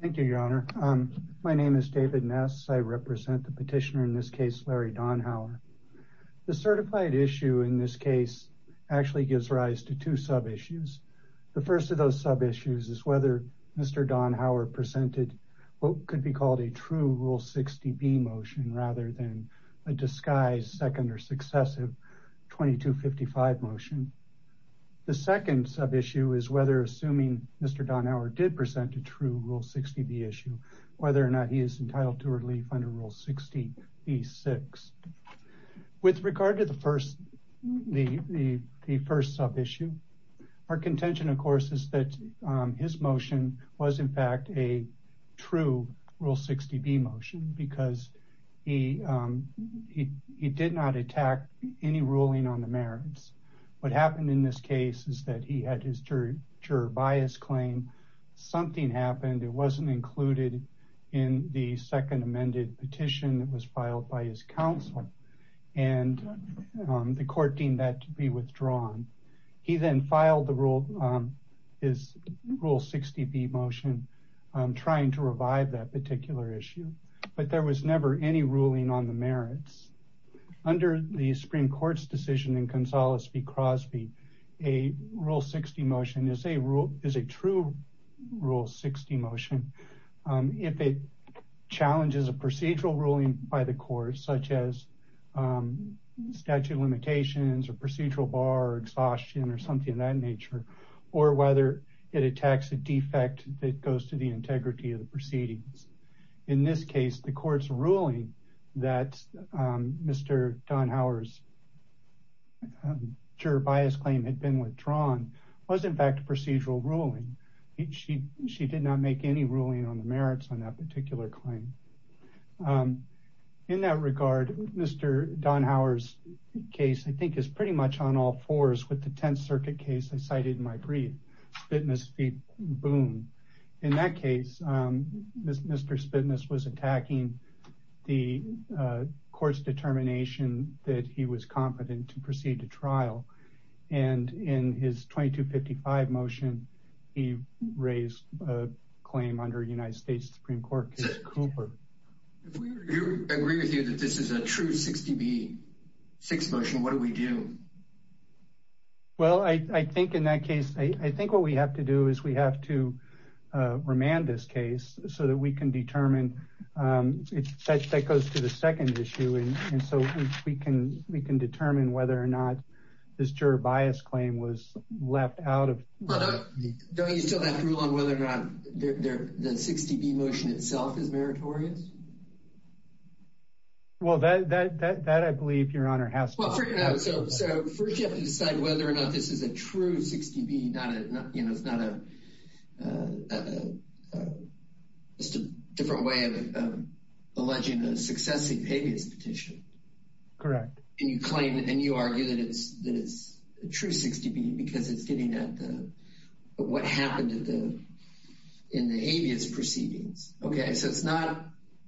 Thank you, Your Honor. My name is David Ness. I represent the petitioner, in this case, Larry Dauenhauer. The certified issue in this case actually gives rise to two sub-issues. The first of those sub-issues is whether Mr. Dauenhauer presented what could be called a true Rule 60B motion rather than a disguised second or successive 2255 motion. The second sub-issue is whether, assuming Mr. Dauenhauer did present a true Rule 60B issue, whether or not he is entitled to relief under Rule 60B-6. With regard to the first sub-issue, our contention, of course, is that his motion was, in fact, a true Rule 60B motion because he did not attack any ruling on the merits. What happened in this case is that he had his juror bias claim. Something happened. It wasn't included in the second amended petition that was filed by his counsel, and the court deemed that to be withdrawn. He then filed his Rule 60B motion trying to revive that particular issue, but there was never any ruling on the merits. Under the Supreme Court's decision in Gonzales v. Crosby, a Rule 60 motion is a true Rule 60 motion if it challenges a procedural ruling by the court, such as statute of limitations or procedural bar or exhaustion or something of that nature, or whether it attacks a defect that goes to the integrity of the proceedings. In this case, the court's ruling that Mr. Donhower's juror bias claim had been withdrawn was, in fact, a procedural ruling. She did not make any ruling on the merits on that particular claim. In that regard, Mr. Donhower's case, I think, is pretty much on all fours with the Tenth Circuit case I cited in my brief, Spitmas v. Boone. In that case, Mr. Spitmas was attacking the court's determination that he was competent to proceed to trial, and in his 2255 motion, he raised a claim under United States Supreme Court case Cooper. If we agree with you that this is a true 60B6 motion, what do we do? Well, I think in that case, I think what we have to do is we have to remand this case so that we can determine, that goes to the second issue, and so we can determine whether or not this juror bias claim was left out of the case. Don't you still have to rule on whether or not the 60B motion itself is meritorious? So first, you have to decide whether or not this is a true 60B, it's not just a different way of alleging a successive habeas petition. Correct. And you claim, and you argue that it's a true 60B because it's getting at what happened in the habeas proceedings. Okay, so it's not,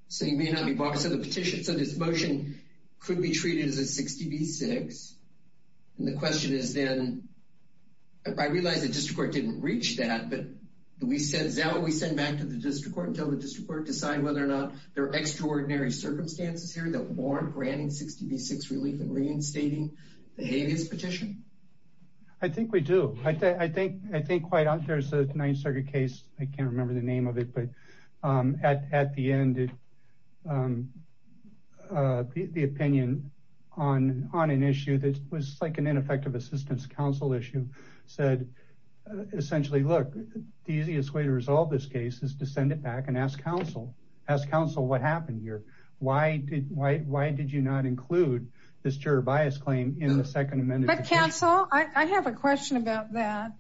so you may not be barred, so the petition, so this motion could be treated as a 60B6, and the question is then, I realize the district court didn't reach that, but do we send it back to the district court until the district court decide whether or not there are extraordinary circumstances here that warrant granting 60B6 relief and reinstating the habeas petition? I think we do. I think quite, there's a Ninth Circuit case, I can't remember the name of it, but at the end, the opinion on an issue that was like an ineffective assistance council issue said, essentially, look, the easiest way to resolve this case is to send it back and ask council, ask council what happened here. Why did you not include this juror bias claim in the second amended petition? But council, I have a question about that.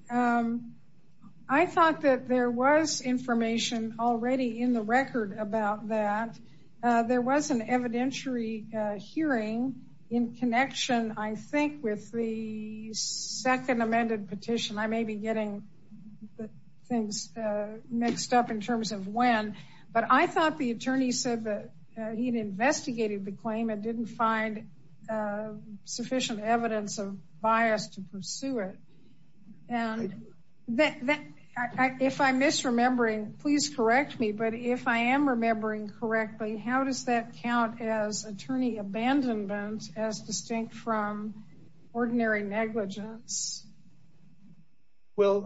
I thought that there was information already in the record about that. There was an evidentiary hearing in connection, I think, with the second amended petition. I may be getting things mixed up in terms of when, but I thought the attorney said that he'd investigated the claim and didn't find sufficient evidence of bias to pursue it. And if I'm misremembering, please correct me, but if I am remembering correctly, how does that count as attorney abandonment as distinct from ordinary negligence? Well,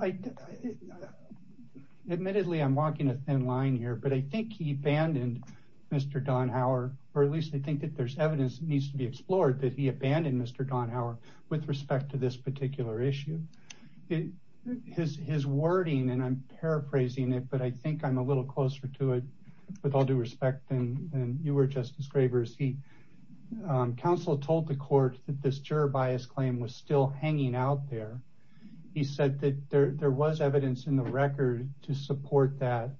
admittedly, I'm walking a thin line here, but I think he abandoned Mr. Donhower, or at least I think that there's evidence that needs to be explored that he abandoned Mr. Donhower with respect to this particular issue. His wording, and I'm paraphrasing it, but I think I'm a little closer to it with all due respect than you were, Justice Gravers. Council told the court that this juror bias claim was still hanging out there. He said that there was evidence in the record to support that,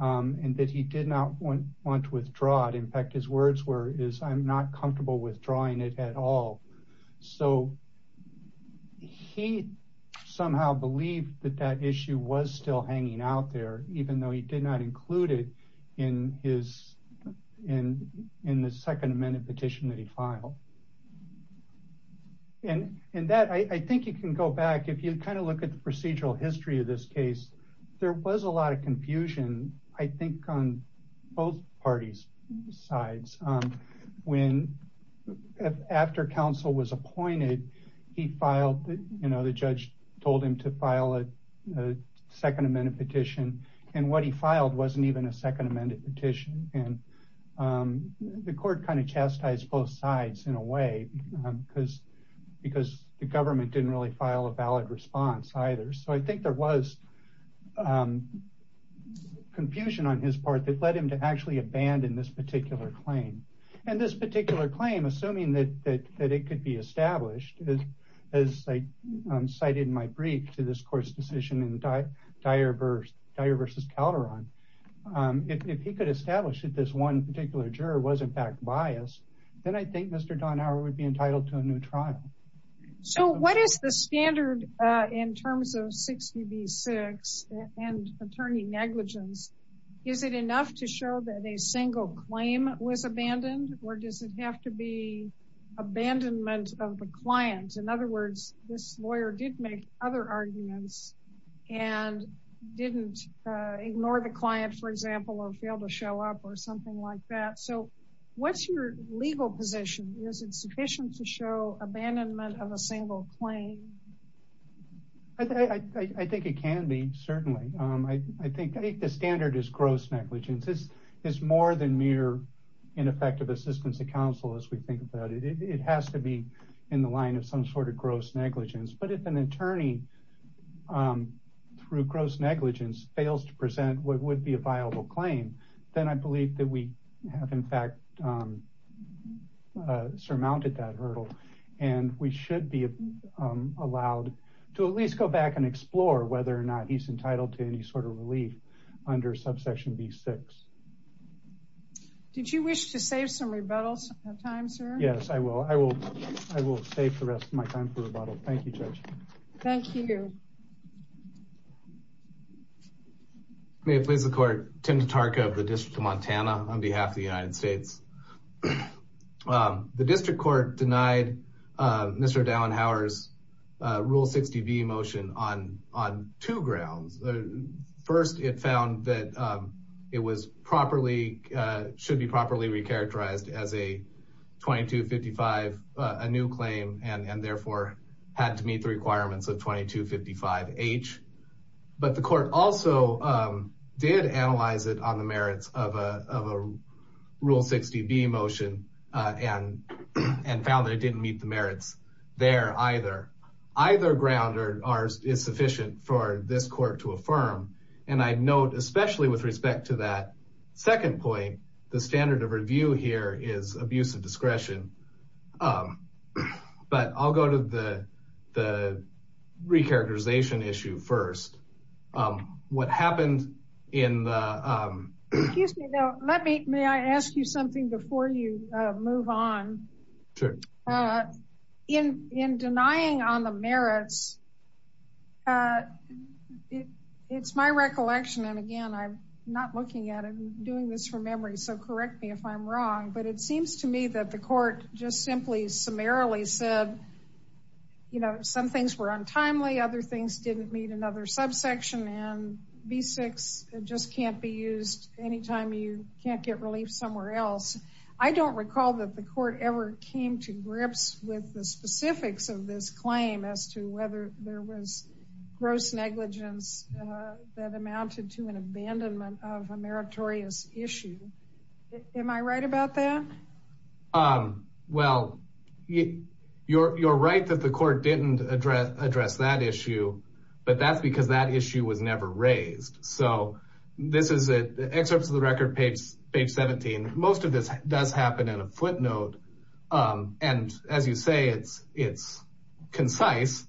and that he did not want to withdraw it. His words were, I'm not comfortable withdrawing it at all. So he somehow believed that that issue was still hanging out there, even though he did not include it in the second amended petition that he filed. I think you can go back, if you look at the procedural history of this case, there was a lot of confusion, I think, on both parties' sides. After counsel was appointed, the judge told him to file a second amended petition, and what he filed wasn't even a second amended petition, and the court kind of chastised both sides in a way, because the government didn't really file a valid response either. So I think there was confusion on his part that led him to actually abandon this particular claim. And this particular claim, assuming that it could be established, as I cited in my brief to this court's decision in Dyer v. Calderon, if he could establish that this one particular juror was, in fact, biased, then I think Mr. Donauer would be entitled to a new trial. So what is the standard in terms of 60 v. 6 and attorney negligence? Is it enough to show that a single claim was abandoned, or does it have to be abandonment of the client? In other words, this lawyer did make other arguments and didn't ignore the client, for example, or fail to show up or something like that. So what's your legal position? Is it sufficient to show abandonment of a single claim? I think it can be, certainly. I think the standard is gross negligence. It's more than mere ineffective assistance to counsel, as we think about it. It has to be in the line of some sort of gross negligence. But if an attorney, through gross negligence, fails to present what would be a viable claim, then I believe that we have, in fact, surmounted that hurdle. And we should be allowed to at least go back and explore whether or not he's entitled to any sort of relief under subsection v. 6. Did you wish to save some rebuttals of time, sir? Yes, I will. I will save the rest of my time for rebuttal. Thank you, Judge. Thank you. May it please the court. Tim Tatarka of the District of Montana on behalf of the United States. The district court denied Mr. Dauenhauer's Rule 60b motion on two grounds. First, it found that it should be properly recharacterized as a 2255, a new claim, and therefore had to meet the requirements of 2255H. But the court also did analyze it on the merits of a Rule 60b motion and found that it didn't meet the merits there either. Either ground is sufficient for this court to affirm. And I'd note, especially with respect to that second point, the standard of review here is abuse of discretion. But I'll go to the recharacterization issue first. What happened in the... Excuse me. May I ask you something before you move on? Sure. In denying on the merits, it's my recollection. And again, I'm not looking at it. I'm doing this from memory. So correct me if I'm wrong. But it seems to me that the court just simply summarily said, you know, some things were untimely, other things didn't meet another subsection, and B6 just can't be used anytime you can't get relief somewhere else. I don't recall that the court ever came to grips with the specifics of this claim as to whether there was gross negligence that amounted to an abandonment of a meritorious issue. Am I right about that? Well, you're right that the court didn't address that issue. But that's because that issue was never raised. So this is excerpts of the record page 17. Most of this does happen in a footnote. And as you say, it's concise.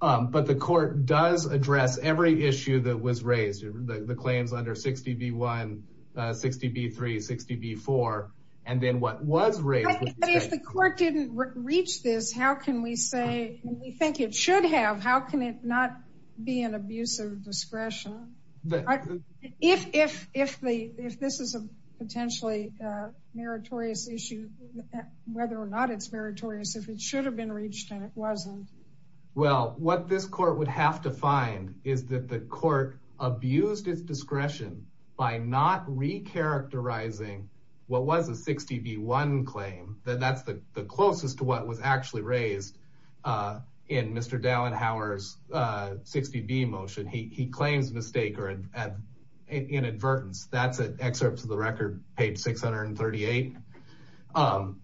But the court does address every issue that was raised. The claims under 60B1, 60B3, 60B4, and then what was raised. But if the court didn't reach this, how can we say, and we think it should have, how can it not be an abuse of discretion? If this is a potentially meritorious issue, whether or not it's meritorious, if it should have been reached and it wasn't. Well, what this court would have to find is that the court abused its discretion by not recharacterizing what was a 60B1 claim, that that's the closest to what was actually raised in Mr. Dallin-Howard's 60B motion. He claims mistake or inadvertence. That's an excerpt to the record, page 638. And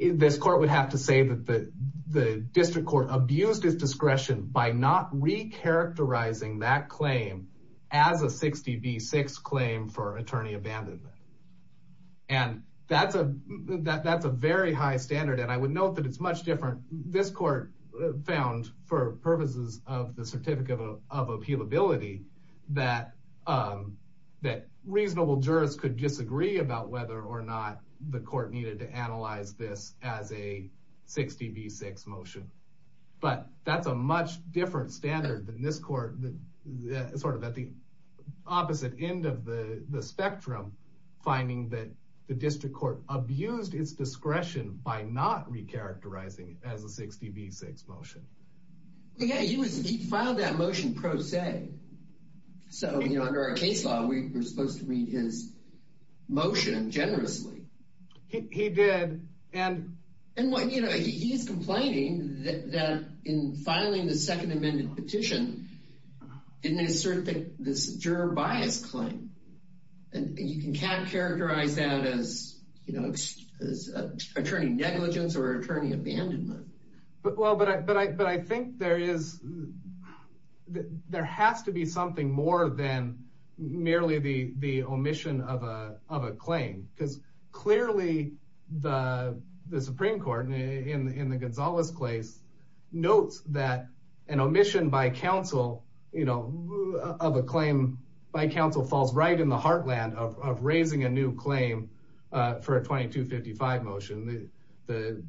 this court would have to say that the district court abused its discretion by not recharacterizing that claim as a 60B6 claim for attorney abandonment. And that's a very high standard. And I would note that it's much different. This court found, for purposes of the certificate of appealability, that reasonable jurors could disagree about whether or not the court needed to analyze this as a 60B6 motion. But that's a much different standard than this court, sort of at the opposite end of the spectrum, finding that the district court abused its discretion by not recharacterizing it as a 60B6 motion. Yeah, he filed that motion pro se. So, you know, under our case law, we were supposed to read his motion generously. He did. And, you know, he's complaining that in filing the second amended petition, didn't assert this juror bias claim. And you can't characterize that as attorney negligence or attorney abandonment. Well, but I think there is, there has to be something more than merely the omission of a claim. Because clearly, the Supreme Court, in the Gonzalez case, notes that an omission by counsel, you know, of a claim by counsel, falls right in the heartland of raising a new claim for a 2255 motion. The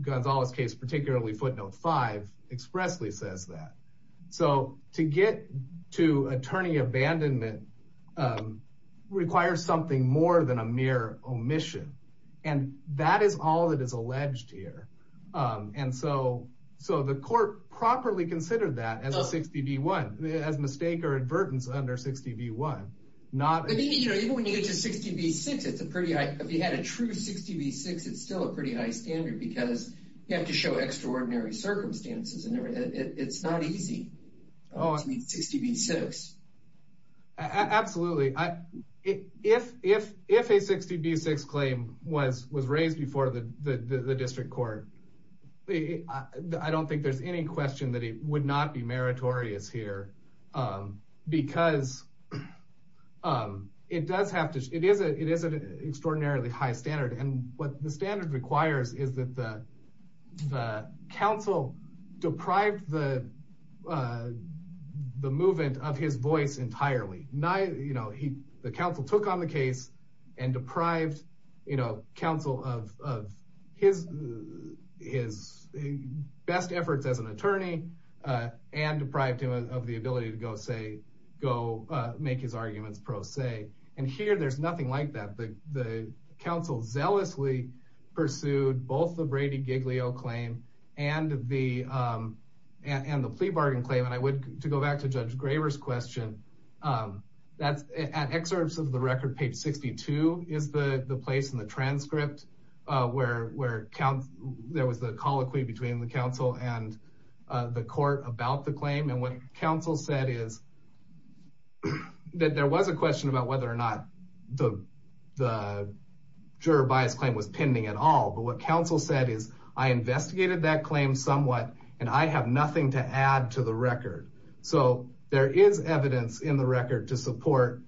Gonzalez case, particularly footnote five, expressly says that. So to get to attorney abandonment requires something more than a mere omission. And that is all that is alleged here. And so the court properly considered that as a 60B1, as mistake or advertence under 60B1. Even when you get to 60B6, it's a pretty, if you had a true 60B6, it's still a pretty high standard. Because you have to show extraordinary circumstances. And it's not easy to meet 60B6. Absolutely. If a 60B6 claim was raised before the district court, I don't think there's any question that it would not be meritorious here. Because it does have to, it is an extraordinarily high standard. And what the standard requires is that the counsel deprived the movement of his voice entirely. The counsel took on the case and deprived counsel of his best efforts as an attorney. And deprived him of the ability to go make his arguments pro se. And here, there's nothing like that. The counsel zealously pursued both the Brady-Giglio claim and the plea bargain claim. And I would, to go back to Judge Graber's question, at excerpts of the record, page 62 is the place in the transcript where there was the colloquy between the counsel and the court about the claim. And what counsel said is that there was a question about whether or not the juror bias claim was pending at all. But what counsel said is, I investigated that claim somewhat. And I have nothing to add to the record. So there is evidence in the record to support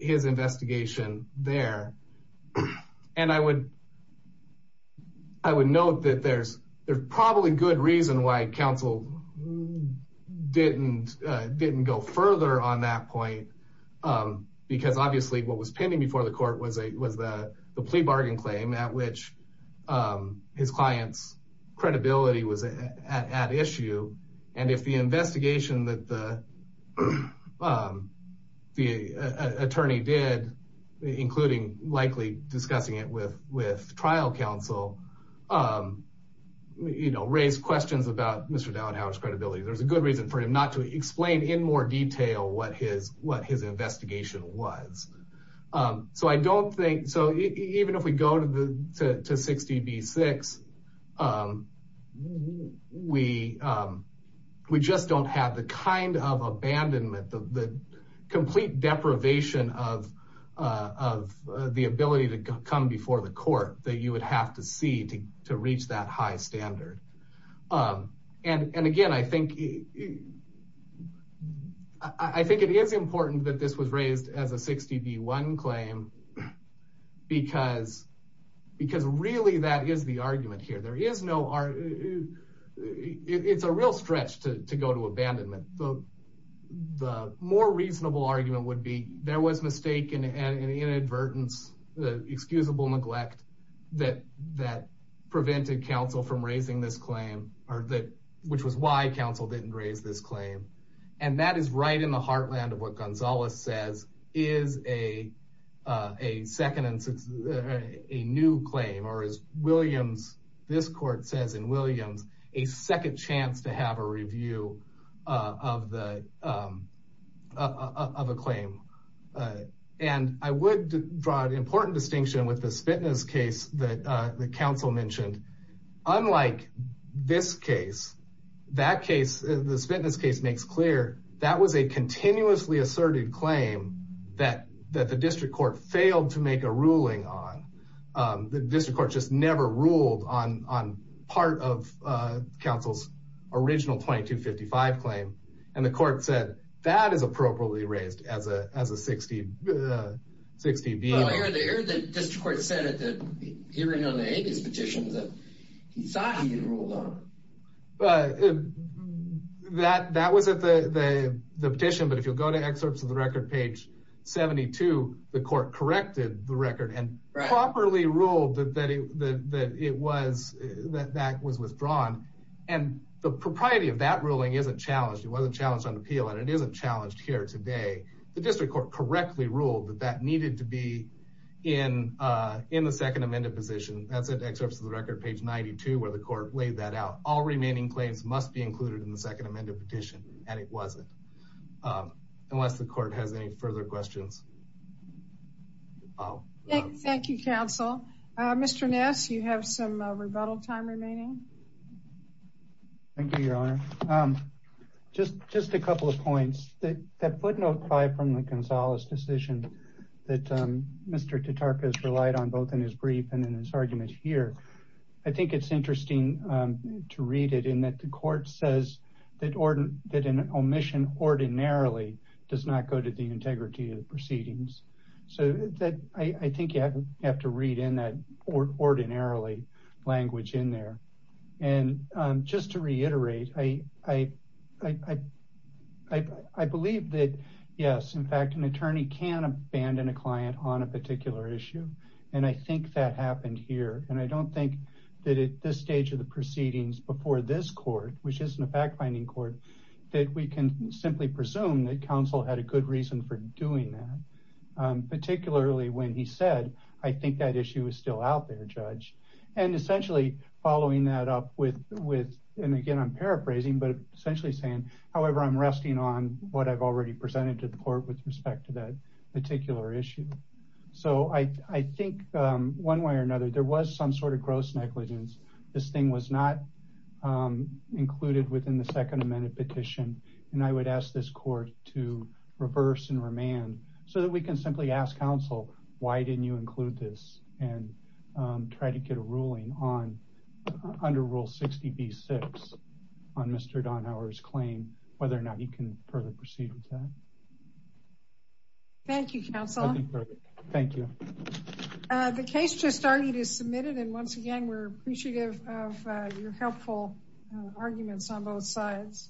his investigation there. And I would note that there's probably good reason why counsel didn't go further on that point. Because obviously, what was pending before the court was the plea bargain claim at which his client's credibility was at issue. And if the investigation that the attorney did, including likely discussing it with trial counsel, raised questions about Mr. Dauenhauer's credibility, there's a good reason for him not to explain in more detail what his investigation was. So even if we go to 60B6, we just don't have the kind of abandonment, the complete deprivation of the ability to come before the court that you would have to see to reach that high standard. And again, I think it is important that this was raised as a 60B1 claim because really, that is the argument here. There is no argument. It's a real stretch to go to abandonment. The more reasonable argument would be there was mistake and inadvertence, the excusable neglect that prevented counsel from raising this claim, which was why counsel didn't raise this claim. And that is right in the heartland of what Gonzalez says is a new claim, or as this court says in Williams, a second chance to have a review of a claim. And I would draw an important distinction with the Spitness case that counsel mentioned. Unlike this case, that case, the Spitness case makes clear that was a continuously asserted claim that the district court failed to make a ruling on. The district court just never ruled on part of counsel's original 2255 claim. And the court said, that is appropriately raised as a 60B1. But earlier, the district court said at the hearing on the Avis petition that he thought he had ruled on it. But that was at the petition. But if you'll go to excerpts of the record, page 72, the court corrected the record and properly ruled that that was withdrawn. And the propriety of that ruling isn't challenged. It wasn't challenged on appeal, and it isn't challenged here today. The district court correctly ruled that that needed to be in the second amended position. That's at excerpts of the record, page 92, where the court laid that out. All remaining claims must be included in the second amended petition. And it wasn't, unless the court has any further questions. Thank you, counsel. Mr. Ness, you have some rebuttal time remaining. Thank you, your honor. Um, just a couple of points. That footnote 5 from the Gonzalez decision that Mr. Tatarkas relied on, both in his brief and in his argument here, I think it's interesting to read it in that the court says that an omission ordinarily does not go to the integrity of the proceedings. So I think you have to read in that ordinarily language in there. And, um, just to reiterate, I, I, I, I, I believe that, yes, in fact, an attorney can abandon a client on a particular issue. And I think that happened here. And I don't think that at this stage of the proceedings before this court, which isn't a fact-finding court, that we can simply presume that counsel had a good reason for doing that. Particularly when he said, I think that issue is still out there, judge. And essentially following that up with, with, and again, I'm paraphrasing, but essentially saying, however, I'm resting on what I've already presented to the court with respect to that particular issue. So I, I think, um, one way or another, there was some sort of gross negligence. This thing was not, um, included within the second amendment petition. And I would ask this court to reverse and remand so that we can simply ask counsel, why didn't you include this and, um, try to get a ruling on, under rule 60B6 on Mr. Donhower's claim, whether or not he can further proceed with that. Thank you, counsel. Thank you. The case just started is submitted. And once again, we're appreciative of your helpful arguments on both sides.